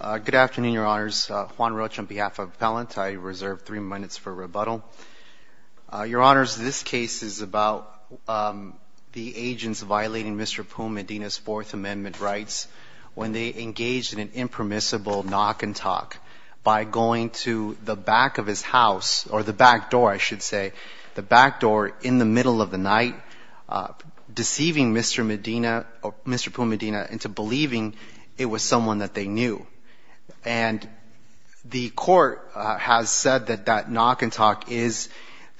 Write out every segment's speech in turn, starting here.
Good afternoon, Your Honors. Juan Rocha on behalf of Appellant. I reserve three minutes for rebuttal. Your Honors, this case is about the agents violating Mr. Poom-Medina's Fourth Amendment rights when they engaged in an impermissible knock and talk by going to the back of his house, deceiving Mr. Medina, Mr. Poom-Medina into believing it was someone that they knew. And the Court has said that that knock and talk is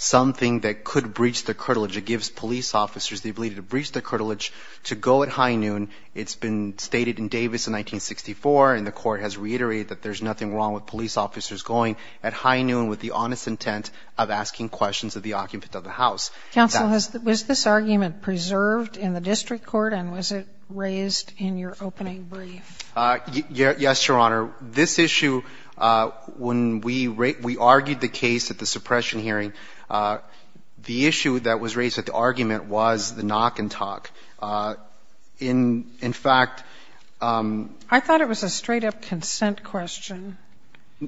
something that could breach the curtilage. It gives police officers the ability to breach the curtilage to go at high noon. It's been stated in Davis in 1964, and the Court has reiterated that there's nothing wrong with police officers going at high noon with the honest intent of asking questions of the occupant of the house. Counsel, was this argument preserved in the district court, and was it raised in your opening brief? Yes, Your Honor. This issue, when we argued the case at the suppression hearing, the issue that was raised at the argument was the knock and talk. In fact… I thought it was a straight-up consent question.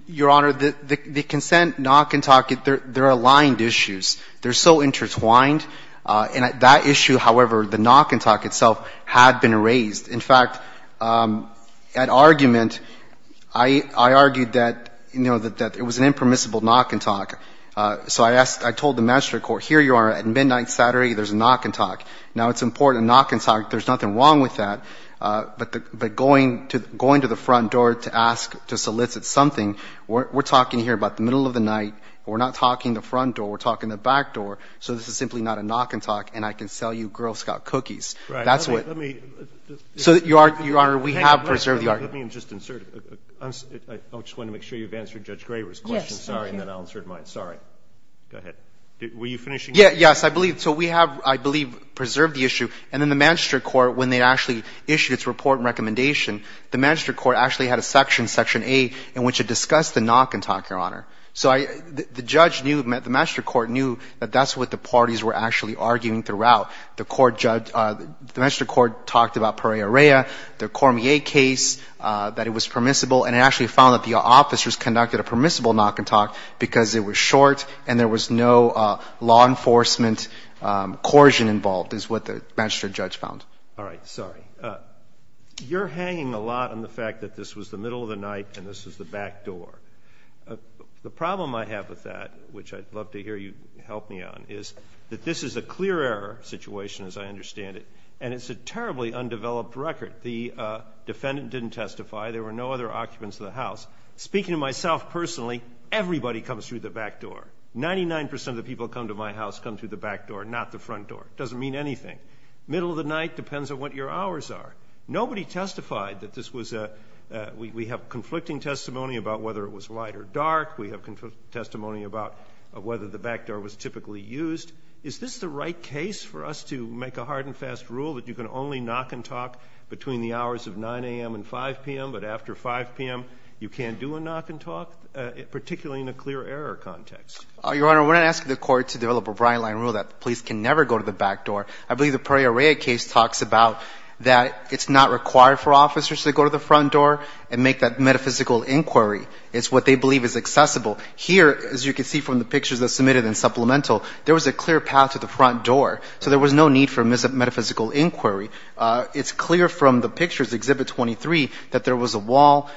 Your Honor, the consent knock and talk, they're aligned issues. They're so intertwined. And that issue, however, the knock and talk itself had been raised. In fact, at argument, I argued that, you know, that it was an impermissible knock and talk. So I asked… I told the magistrate court, here you are at midnight Saturday, there's a knock and talk. Now, it's important, a knock and talk, there's nothing wrong with that, but going to the front door to ask, to solicit something, we're talking here about the middle of the night, we're not talking the front door, we're talking the back door, so this is simply not a knock and talk, and I can sell you Girl Scout cookies. That's what… Right. Let me… So, Your Honor, we have preserved the argument. Let me just insert a… I just want to make sure you've answered Judge Graber's question. Yes. Sorry, and then I'll insert mine. Sorry. Go ahead. Were you finishing? Yes, I believe. So we have, I believe, preserved the issue. And in the magistrate court, when they actually issued its report and recommendation, the magistrate court actually had a section, section A, in which it discussed the knock and talk, Your Honor. So I… the judge knew, the magistrate court knew that that's what the parties were actually arguing throughout. The court judge… the magistrate court talked about Pereira Rea, the Cormier case, that it was permissible, and it actually found that the officers conducted a permissible knock and talk because it was short and there was no law enforcement coercion involved, is what the magistrate judge found. All right. Sorry. You're hanging a lot on the fact that this was the middle of the night and this was the back door. The problem I have with that, which I'd love to hear you help me on, is that this is a clear error situation, as I understand it, and it's a terribly undeveloped record. The defendant didn't testify. There were no other occupants of the house. Speaking to myself personally, everybody comes through the back door. Ninety-nine percent of the people who come to my house come through the back door, not the front door. It doesn't mean anything. Middle of the night depends on what your hours are. Nobody testified that this was a – we have conflicting testimony about whether it was light or dark. We have conflicting testimony about whether the back door was typically used. Is this the right case for us to make a hard and fast rule that you can only knock and talk between the hours of 9 a.m. and 5 p.m., but after 5 p.m. you can't do a knock and talk, particularly in a clear error context? Your Honor, we're not asking the court to develop a bright-line rule that police can never go to the back door. I believe the Pereira case talks about that it's not required for officers to go to the front door and make that metaphysical inquiry. It's what they believe is accessible. Here, as you can see from the pictures that's submitted in Supplemental, there was a clear path to the front door, so there was no need for metaphysical inquiry. It's clear from the pictures, Exhibit 23, that there was a wall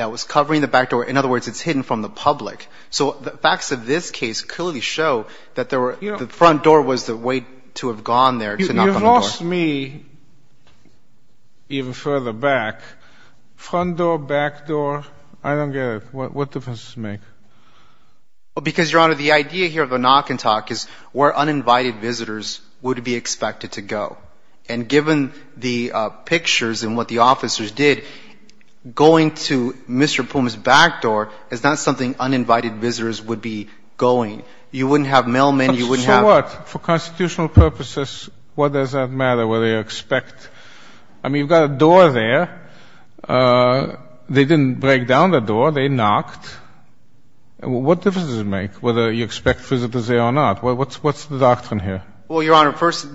that was covering the back door. In other words, it's hidden from the public. So the facts of this case clearly show that the front door was the way to have gone there to knock on the door. You've lost me even further back. Front door, back door, I don't get it. What difference does it make? Because, Your Honor, the idea here of a knock and talk is where uninvited visitors would be expected to go. And given the pictures and what the officers did, going to Mr. Puma's back door is not something uninvited visitors would be going. You wouldn't have mailmen, you wouldn't have — So what? For constitutional purposes, what does that matter, whether you expect — I mean, you've got a door there. They didn't break down the door. They knocked. What difference does it make whether you expect visitors there or not? What's the doctrine here? Well, Your Honor, first,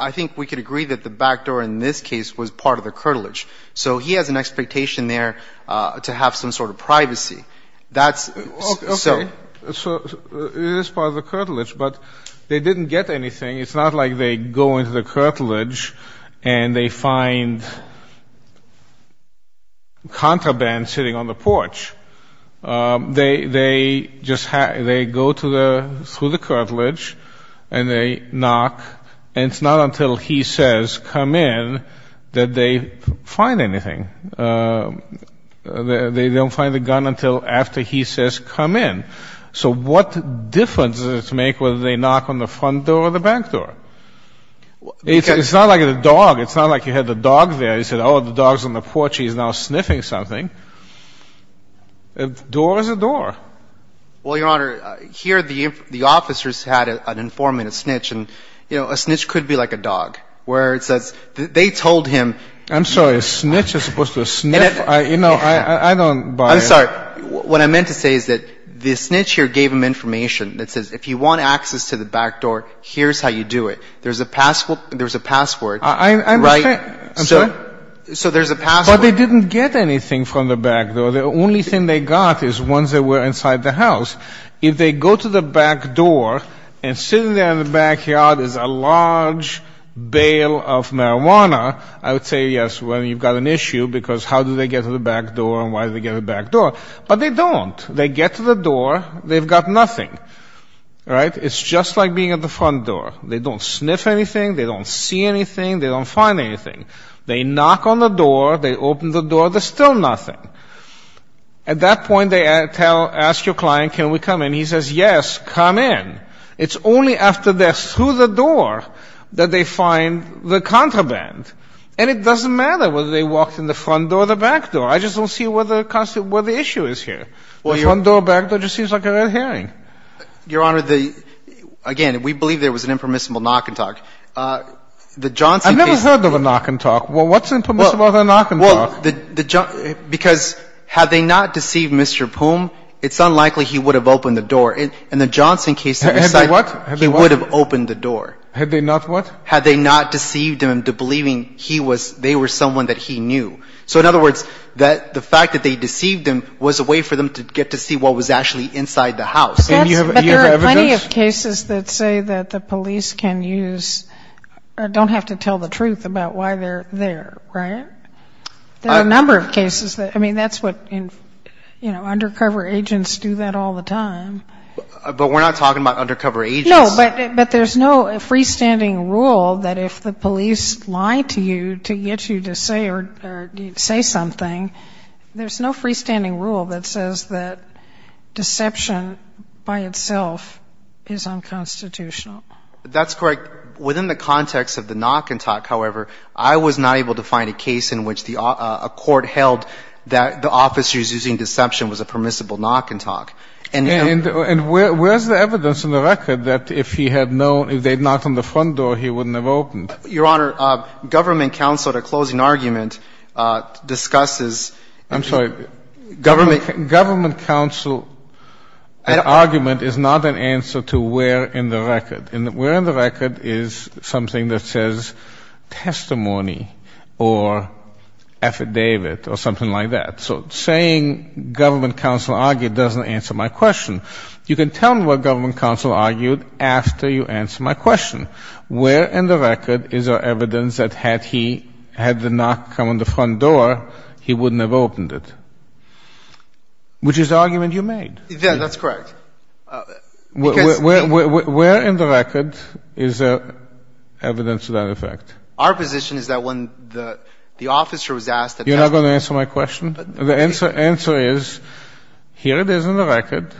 I think we could agree that the back door in this case was part of the curtilage. So he has an expectation there to have some sort of privacy. That's — Okay. So it is part of the curtilage. But they didn't get anything. It's not like they go into the curtilage and they find contraband sitting on the porch. They just — they go to the — through the curtilage and they knock. And it's not until he says, come in, that they find anything. They don't find the gun until after he says, come in. So what difference does it make whether they knock on the front door or the back door? It's not like a dog. It's not like you had the dog there. You said, oh, the dog's on the porch. He's now sniffing something. A door is a door. Well, Your Honor, here the officers had an informant, a snitch. And, you know, a snitch could be like a dog, where it says — they told him — I'm sorry. A snitch is supposed to sniff? You know, I don't buy it. I'm sorry. What I meant to say is that the snitch here gave him information that says, if you want access to the back door, here's how you do it. There's a pass — there's a password, right? I understand. I'm sorry? So there's a password. But they didn't get anything from the back door. The only thing they got is ones that were inside the house. If they go to the back door and sitting there in the backyard is a large bale of marijuana, I would say, yes, well, you've got an issue because how do they get to the back door and why do they get to the back door? But they don't. They get to the door. They've got nothing, right? It's just like being at the front door. They don't sniff anything. They don't see anything. They don't find anything. They knock on the door. They open the door. There's still nothing. At that point, they ask your client, can we come in? He says, yes, come in. It's only after they're through the door that they find the contraband. And it doesn't matter whether they walked in the front door or the back door. I just don't see where the issue is here. The front door or back door just seems like a red herring. Your Honor, again, we believe there was an impermissible knock and talk. I've never heard of a knock and talk. What's impermissible about a knock and talk? Because had they not deceived Mr. Poom, it's unlikely he would have opened the door. In the Johnson case, he would have opened the door. Had they not what? Meaning they were someone that he knew. So in other words, the fact that they deceived him was a way for them to get to see what was actually inside the house. And you have evidence? But there are plenty of cases that say that the police can use or don't have to tell the truth about why they're there, right? There are a number of cases that, I mean, that's what, you know, undercover agents do that all the time. But we're not talking about undercover agents. No, but there's no freestanding rule that if the police lie to you to get you to say or say something, there's no freestanding rule that says that deception by itself is unconstitutional. That's correct. Within the context of the knock and talk, however, I was not able to find a case in which a court held that the officers using deception was a permissible knock and talk. And where's the evidence in the record that if he had known, if they had knocked on the front door, he wouldn't have opened? Your Honor, government counsel at a closing argument discusses... I'm sorry. Government counsel argument is not an answer to where in the record. And where in the record is something that says testimony or affidavit or something like that? So saying government counsel argued doesn't answer my question. You can tell me what government counsel argued after you answer my question. Where in the record is our evidence that had he, had the knock come on the front door, he wouldn't have opened it? Which is the argument you made. Yeah, that's correct. Where in the record is evidence to that effect? Our position is that when the officer was asked... You're not going to answer my question? The answer is, here it is in the record,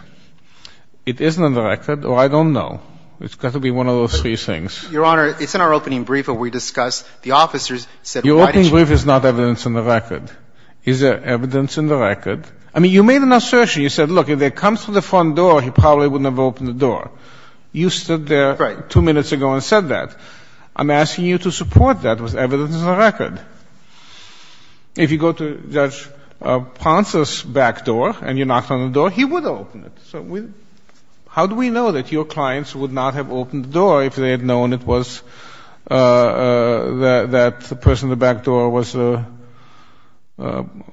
it isn't in the record, or I don't know. It's got to be one of those three things. Your Honor, it's in our opening brief where we discuss the officers said... Your opening brief is not evidence in the record. Is there evidence in the record? I mean, you made an assertion. You said, look, if they come through the front door, he probably wouldn't have opened the door. You stood there... Right. ...two minutes ago and said that. I'm asking you to support that with evidence in the record. If you go to Judge Ponce's back door and you knocked on the door, he would open it. So how do we know that your clients would not have opened the door if they had known it was that the person at the back door was the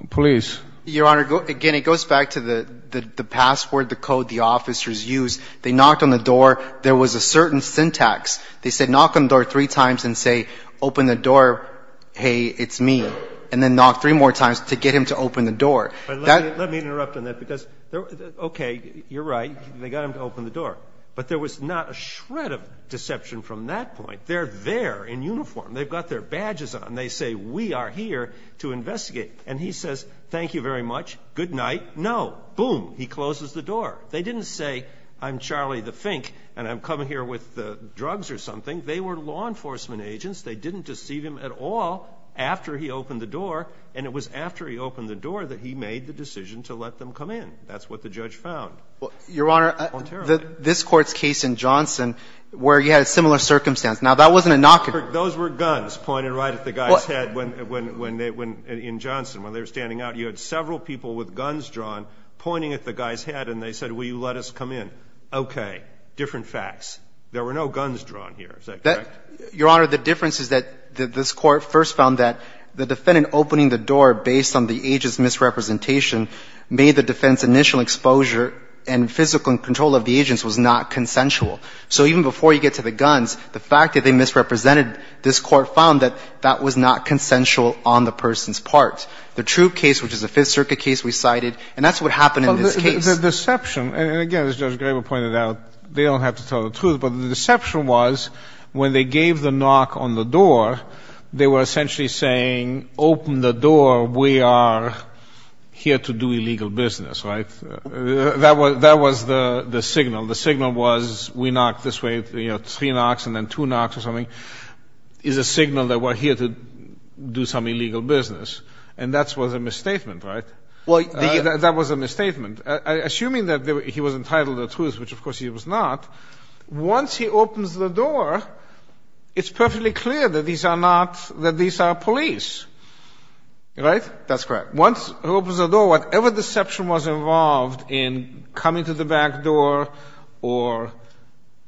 police? Your Honor, again, it goes back to the password, the code the officers used. They knocked on the door. There was a certain syntax. They said, knock on the door three times and say, open the door, hey, open the door. Say, it's me, and then knock three more times to get him to open the door. Let me interrupt on that because, okay, you're right, they got him to open the door. But there was not a shred of deception from that point. They're there in uniform. They've got their badges on. They say, we are here to investigate. And he says, thank you very much, good night. No. Boom. He closes the door. They didn't say, I'm Charlie the Fink and I'm coming here with drugs or something. They were law enforcement agents. They didn't deceive him at all after he opened the door. And it was after he opened the door that he made the decision to let them come in. That's what the judge found. Ontario did. Your Honor, this Court's case in Johnson where you had a similar circumstance. Now, that wasn't a knock. Those were guns pointed right at the guy's head when they – in Johnson. When they were standing out, you had several people with guns drawn pointing at the guy's head and they said, will you let us come in? Okay. Different facts. There were no guns drawn here. Is that correct? Your Honor, the difference is that this Court first found that the defendant opening the door based on the agent's misrepresentation made the defendant's initial exposure and physical control of the agents was not consensual. So even before you get to the guns, the fact that they misrepresented, this Court found that that was not consensual on the person's part. The troop case, which is the Fifth Circuit case we cited, and that's what happened in this case. The deception, and again, as Judge Graber pointed out, they don't have to tell the knock on the door, they were essentially saying, open the door, we are here to do illegal business, right? That was the signal. The signal was, we knock this way, three knocks and then two knocks or something, is a signal that we're here to do some illegal business. And that was a misstatement, right? That was a misstatement. Assuming that he was entitled to the truth, which of course he was not, once he opens the door, it's perfectly clear that these are not, that these are police. Right? That's correct. Once he opens the door, whatever deception was involved in coming to the back door or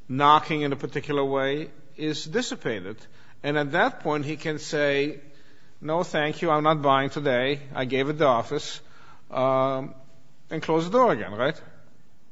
knocking in a particular way is dissipated. And at that point, he can say, no, thank you, I'm not buying today, I gave it the office, and close the door again, right?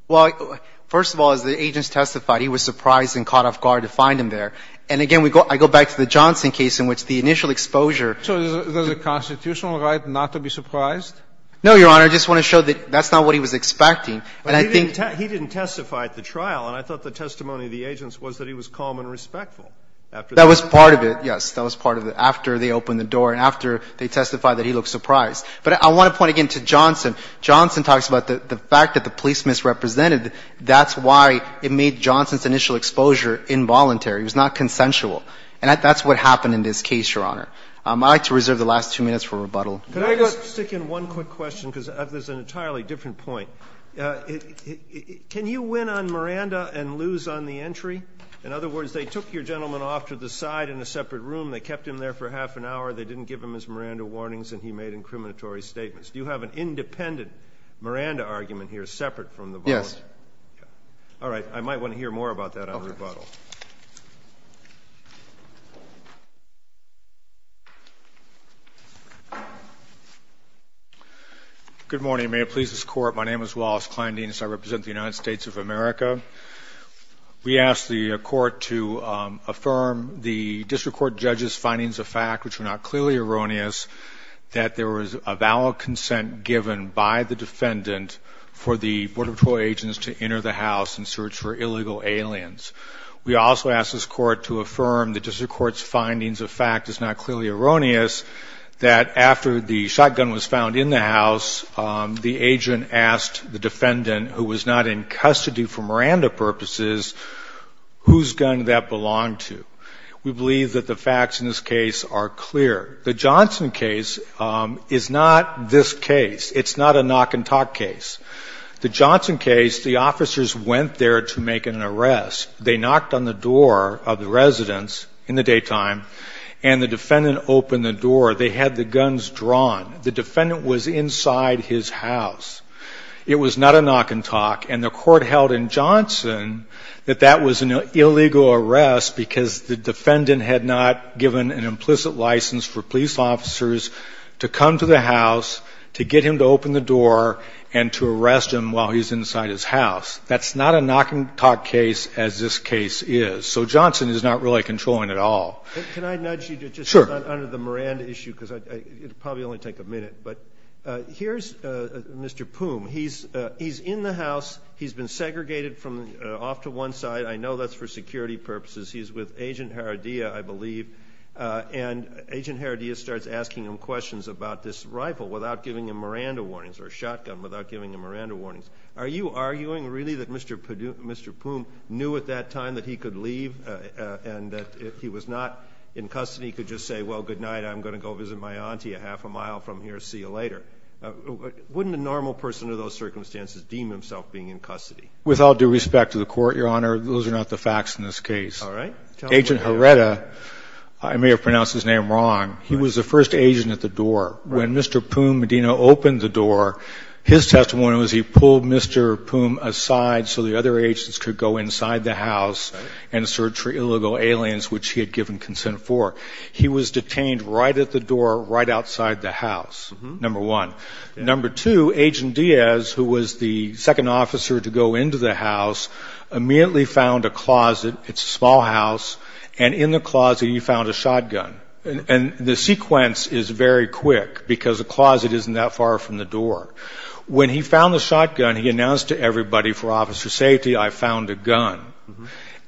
Well, first of all, as the agents testified, he was surprised and caught off guard to the point that, again, I go back to the Johnson case in which the initial exposure So there's a constitutional right not to be surprised? No, Your Honor. I just want to show that that's not what he was expecting. And I think But he didn't testify at the trial, and I thought the testimony of the agents was that he was calm and respectful after the trial. That was part of it, yes. That was part of it. After they opened the door and after they testified that he looked surprised. But I want to point again to Johnson. Johnson talks about the fact that the police misrepresented, that's why it made Johnson's initial exposure involuntary. It was not consensual. And that's what happened in this case, Your Honor. I'd like to reserve the last two minutes for rebuttal. Could I just stick in one quick question, because there's an entirely different point. Can you win on Miranda and lose on the entry? In other words, they took your gentleman off to the side in a separate room, they kept him there for half an hour, they didn't give him his Miranda warnings, and he made incriminatory statements. Do you have an independent Miranda argument here separate from the board? Yes. All right. I might want to hear more about that on rebuttal. Good morning. May it please this Court. My name is Wallace Kleindienst. I represent the United States of America. We asked the Court to affirm the district court judge's findings of fact, which were not clearly erroneous, that there was a valid consent given by the defendant for the Border Patrol agents to enter the house in search for illegal aliens. We also asked this Court to affirm the district court's findings of fact is not clearly erroneous, that after the shotgun was found in the house, the agent asked the defendant, who was not in custody for Miranda purposes, whose gun that belonged to. We believe that the facts in this case are clear. The Johnson case is not this case. It's not a knock-and-talk case. The Johnson case, the officers went there to make an arrest. They knocked on the door of the residence in the daytime, and the defendant opened the door. They had the guns drawn. The defendant was inside his house. It was not a knock-and-talk, and the Court held in Johnson that that was an illegal arrest because the defendant had not given an implicit license for police officers to come to the house, to get him to open the door, and to arrest him while he's inside his house. That's not a knock-and-talk case as this case is. So Johnson is not really controlling at all. Can I nudge you just under the Miranda issue? Sure. Because it would probably only take a minute. But here's Mr. Poum. He's in the house. He's been segregated from off to one side. I know that's for security purposes. He's with Agent Haradiya, I believe, and Agent Haradiya starts asking him questions about this rifle without giving him Miranda warnings or a shotgun without giving him Miranda warnings. Are you arguing really that Mr. Poum knew at that time that he could leave and that if he was not in custody he could just say, well, good night, I'm going to go visit my auntie a half a mile from here, see you later? Wouldn't a normal person under those circumstances deem himself being in custody? With all due respect to the Court, Your Honor, those are not the facts in this case. All right. Agent Haradiya, I may have pronounced his name wrong, he was the first agent at the door. Right. When Mr. Poum Medina opened the door, his testimony was he pulled Mr. Poum aside so the other agents could go inside the house and search for illegal aliens, which he had given consent for. He was detained right at the door, right outside the house, number one. Number two, Agent Diaz, who was the second officer to go into the house, immediately found a closet. It's a small house. And in the closet he found a shotgun. And the sequence is very quick because the closet isn't that far from the door. When he found the shotgun, he announced to everybody, for officer safety, I found a gun.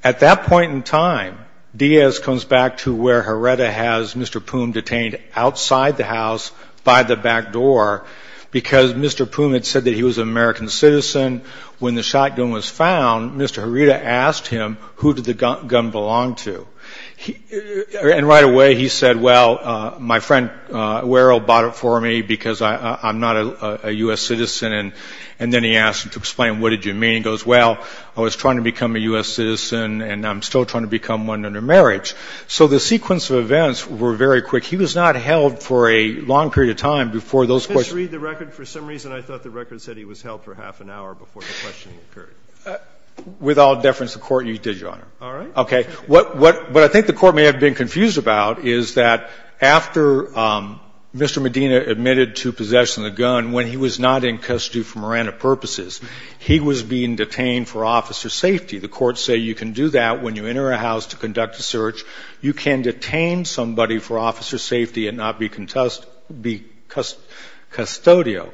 At that point in time, Diaz comes back to where Haradiya has Mr. Poum detained outside the house by the back door because Mr. Poum had said that he was an American citizen. When the shotgun was found, Mr. Haradiya asked him who did the gun belong to. And right away he said, well, my friend Warrell bought it for me because I'm not a U.S. citizen. And then he asked him to explain what did you mean. He goes, well, I was trying to become a U.S. citizen and I'm still trying to become one under marriage. So the sequence of events were very quick. He was not held for a long period of time before those questions. Just read the record. For some reason I thought the record said he was held for half an hour before the questioning occurred. With all deference to court, you did, Your Honor. All right. Okay. What I think the Court may have been confused about is that after Mr. Medina admitted to possession of the gun, when he was not in custody for Miranda purposes, he was being detained for officer safety. The courts say you can do that when you enter a house to conduct a search. You can detain somebody for officer safety and not be custodial.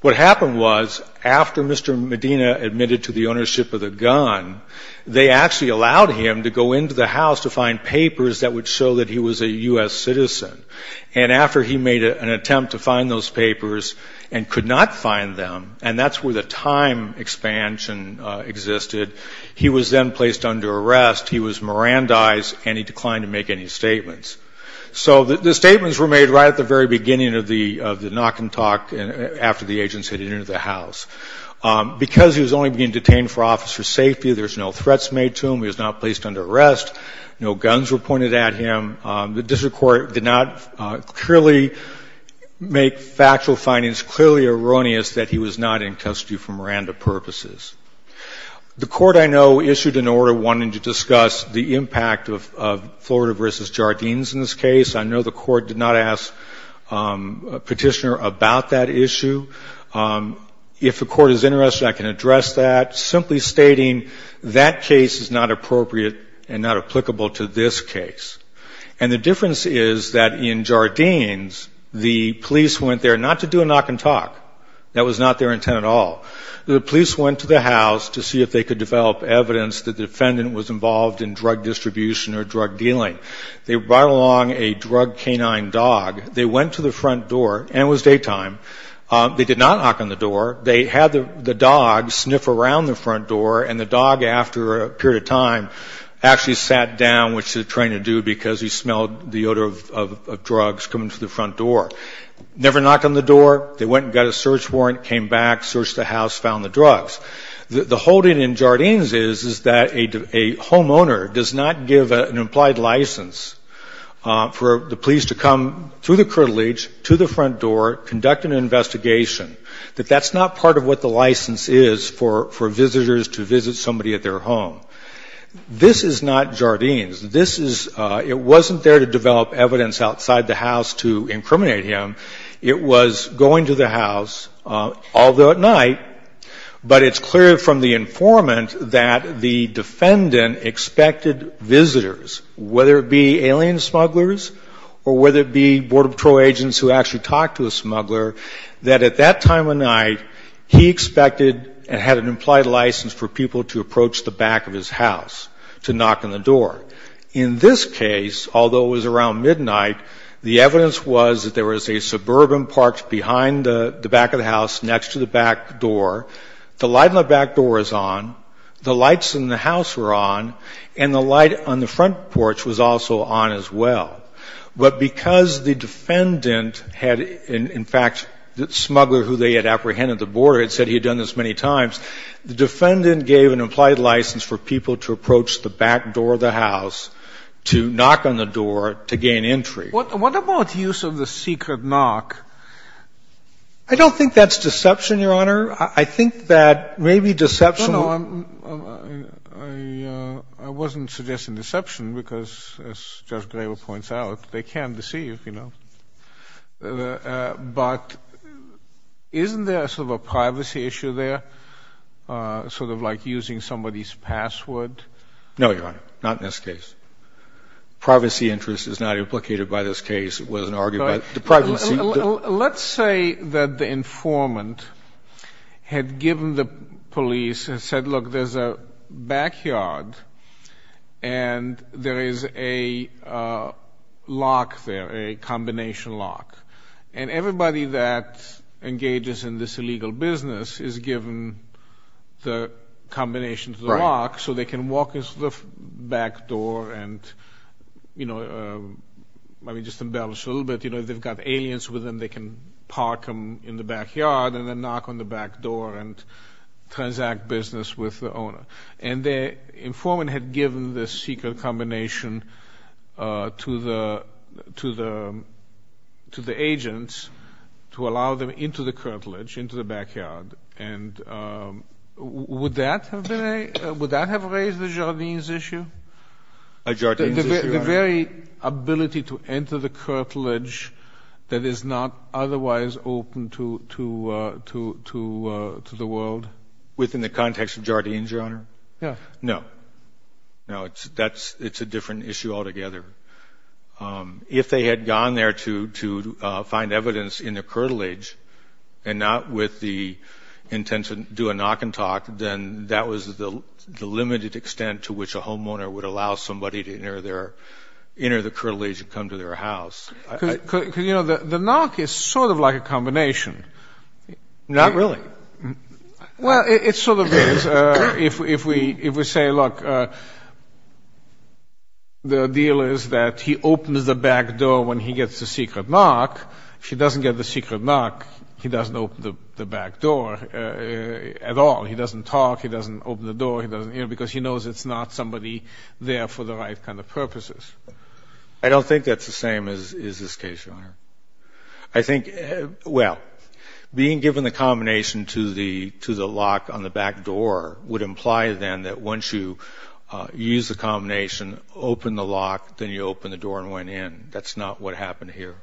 What happened was after Mr. Medina admitted to the ownership of the gun, they actually allowed him to go into the house to find papers that would show that he was a U.S. citizen. And after he made an attempt to find those papers and could not find them, and that's where the time expansion existed, he was then placed under arrest. He was Mirandized and he declined to make any statements. So the statements were made right at the very beginning of the knock and talk after the agents had entered the house. Because he was only being detained for officer safety, there's no threats made to him. He was not placed under arrest. No guns were pointed at him. The district court did not clearly make factual findings clearly erroneous that he was not in custody for Miranda purposes. The Court, I know, issued an order wanting to discuss the impact of Florida v. Jardines in this case. I know the Court did not ask Petitioner about that issue. If the Court is interested, I can address that. Simply stating that case is not appropriate and not applicable to this case. And the difference is that in Jardines, the police went there not to do a knock and talk. That was not their intent at all. The police went to the house to see if they could develop evidence that the defendant was involved in drug distribution or drug dealing. They brought along a drug canine dog. They went to the front door, and it was daytime. They did not knock on the door. They had the dog sniff around the front door, and the dog, after a period of time, actually sat down, which they're trying to do because he smelled the odor of drugs coming through the front door. Never knocked on the door. They went and got a search warrant, came back, searched the house, found the drugs. The whole thing in Jardines is, is that a homeowner does not give an implied license for the police to come through the curtilage, to the front door, conduct an investigation. That that's not part of what the license is for, for visitors to visit somebody at their home. This is not Jardines. This is, it wasn't there to develop evidence outside the house to incriminate him. It was going to the house, although at night, but it's clear from the informant that the defendant expected visitors, whether it be alien smugglers or whether it be border patrol agents who actually talked to a smuggler, that at that time of night, he expected and had an implied license for people to approach the back of his house to knock on the door. In this case, although it was around midnight, the evidence was that there was a suburban parked behind the back of the house next to the back door. The light in the back door was on. The lights in the house were on. And the light on the front porch was also on as well. But because the defendant had, in fact, the smuggler who they had apprehended the border had said he had done this many times, the defendant gave an implied license for people to approach the back door of the house to knock on the door to gain entry. Sotomayor, I don't think that's deception, Your Honor. I think that maybe deception. No, no, I wasn't suggesting deception because, as Judge Graber points out, they can deceive, you know. But isn't there sort of a privacy issue there, sort of like using somebody's password? No, Your Honor, not in this case. Privacy interest is not implicated by this case. It wasn't argued by the privacy. Let's say that the informant had given the police and said, look, there's a backyard and there is a lock there, a combination lock. And everybody that engages in this illegal business is given the combination lock so they can walk into the back door and, you know, let me just embellish a little bit. You know, if they've got aliens with them, they can park them in the backyard and then knock on the back door and transact business with the owner. And the informant had given this secret combination to the agents to allow them into the curtilage, into the backyard. And would that have raised the Jardines issue? The Jardines issue, Your Honor. The very ability to enter the curtilage that is not otherwise open to the world. Within the context of Jardines, Your Honor? Yes. No. No, it's a different issue altogether. If they had gone there to find evidence in the curtilage and not with the intent to do a come to their house. Because, you know, the knock is sort of like a combination. Not really. Well, it sort of is. If we say, look, the deal is that he opens the back door when he gets the secret knock. If he doesn't get the secret knock, he doesn't open the back door at all. He doesn't talk. He doesn't open the door. Because he knows it's not somebody there for the right kind of purposes. I don't think that's the same as this case, Your Honor. I think, well, being given the combination to the lock on the back door would imply, then, that once you use the combination, open the lock, then you open the door and went in. That's not what happened here.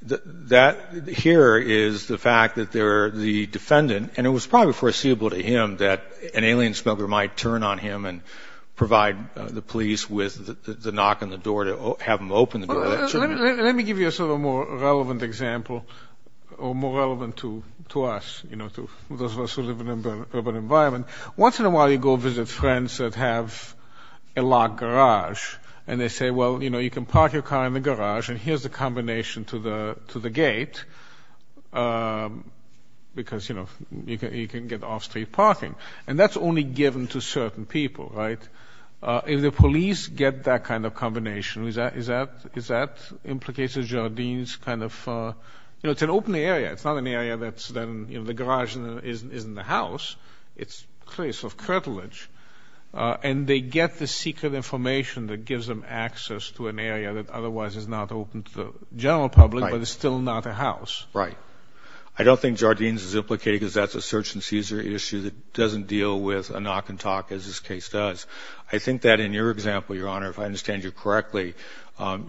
Here is the fact that the defendant, and it was probably foreseeable to him that an alien smuggler might turn on him and provide the police with the knock on the door to have him open the door. Let me give you a sort of more relevant example, or more relevant to us, you know, to those of us who live in an urban environment. Once in a while you go visit friends that have a locked garage, and they say, well, you know, you can park your car in the garage, and here's the combination to the gate, because, you know, you can get off-street parking. And that's only given to certain people, right? If the police get that kind of combination, is that implicated in Jardine's kind of, you know, it's an open area. It's not an area that's then, you know, the garage isn't a house. It's a place of curtilage. And they get the secret information that gives them access to an area that otherwise is not open to the general public, but it's still not a house. Right. I don't think Jardine's is implicated because that's a search-and-seizure issue that doesn't deal with a knock-and-talk, as this case does. I think that in your example, Your Honor, if I understand you correctly,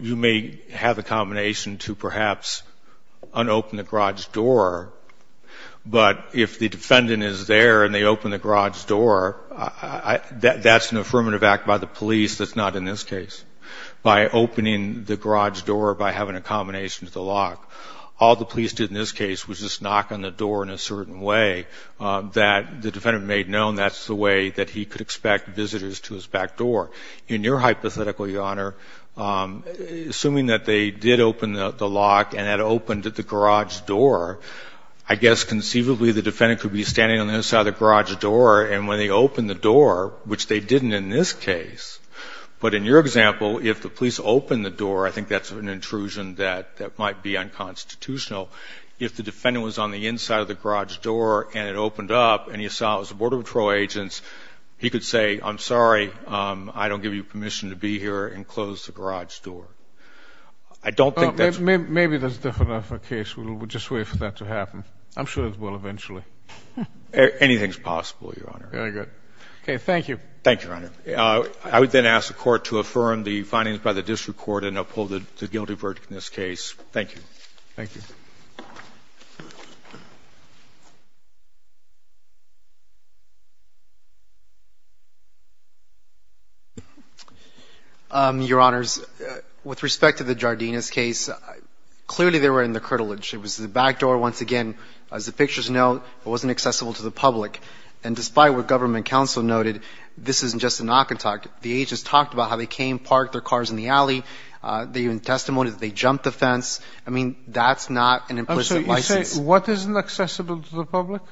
you may have a combination to perhaps un-open the garage door, but if the defendant is there and they open the garage door, that's an affirmative act by the police that's not in this case, by opening the garage door, by having a combination to the lock. All the police did in this case was just knock on the door in a certain way that the defendant may have known that's the way that he could expect visitors to his back door. In your hypothetical, Your Honor, assuming that they did open the lock and had opened the garage door, I guess conceivably the defendant could be standing on the other side of the garage door, and when they opened the door, which they didn't in this case, but in your example, if the police opened the door, I think that's an intrusion that might be unconstitutional. If the defendant was on the inside of the garage door and it opened up, and you saw it was the Border Patrol agents, he could say, I'm sorry, I don't give you permission to be here, and close the garage door. I don't think that's... Maybe that's definitely not the case. We'll just wait for that to happen. I'm sure it will eventually. Anything's possible, Your Honor. Very good. Okay, thank you. Thank you, Your Honor. I would then ask the Court to affirm the findings by the district court and uphold the guilty verdict in this case. Thank you. Thank you. Your Honors, with respect to the Jardines case, clearly they were in the curtilage. It was the back door, once again. As the pictures note, it wasn't accessible to the public. And despite what government counsel noted, this isn't just a knock and talk. The agents talked about how they came, parked their cars in the alley. They even testified that they jumped the fence. I mean, that's not an implicit license. I'm sorry. You say what isn't accessible to the public?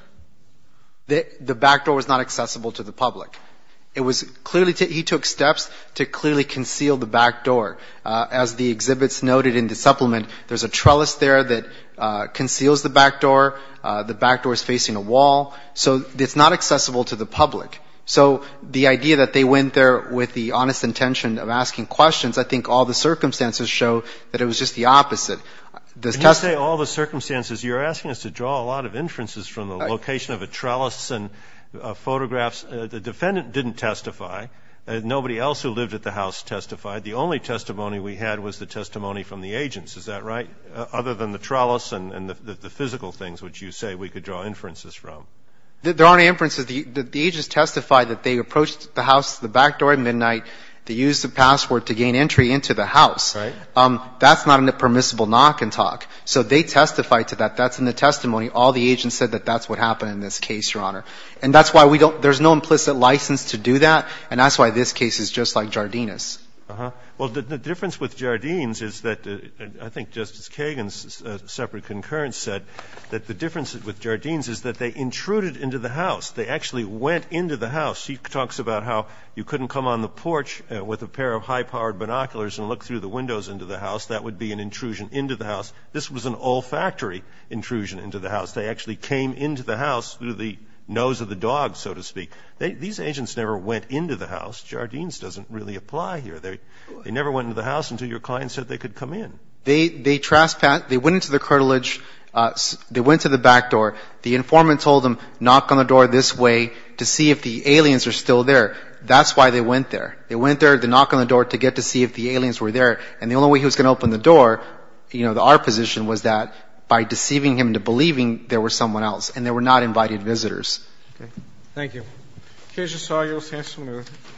The back door was not accessible to the public. It was clearly to – he took steps to clearly conceal the back door. As the exhibits noted in the supplement, there's a trellis there that conceals the back door. The back door is facing a wall. So it's not accessible to the public. So the idea that they went there with the honest intention of asking questions, I think all the circumstances show that it was just the opposite. Can you say all the circumstances? You're asking us to draw a lot of inferences from the location of a trellis and photographs. The defendant didn't testify. Nobody else who lived at the house testified. The only testimony we had was the testimony from the agents. Is that right? Other than the trellis and the physical things which you say we could draw inferences from. There aren't any inferences. The agents testified that they approached the house, the back door at midnight to use the password to gain entry into the house. Right. That's not a permissible knock and talk. So they testified to that. That's in the testimony. All the agents said that that's what happened in this case, Your Honor. And that's why we don't – there's no implicit license to do that, and that's why this case is just like Jardine's. Uh-huh. Well, the difference with Jardine's is that, I think Justice Kagan's separate concurrence said that the difference with Jardine's is that they intruded into the house. They actually went into the house. He talks about how you couldn't come on the porch with a pair of high-powered binoculars and look through the windows into the house. That would be an intrusion into the house. This was an olfactory intrusion into the house. They actually came into the house through the nose of the dog, so to speak. These agents never went into the house. Jardine's doesn't really apply here. They never went into the house until your client said they could come in. They trespassed. They went into the curtilage. They went to the back door. The informant told them, knock on the door this way to see if the aliens are still there. That's why they went there. They went there to knock on the door to get to see if the aliens were there. And the only way he was going to open the door, you know, our position was that by deceiving him into believing there was someone else. And they were not invited visitors. Okay. Thank you. Okay. Thank you.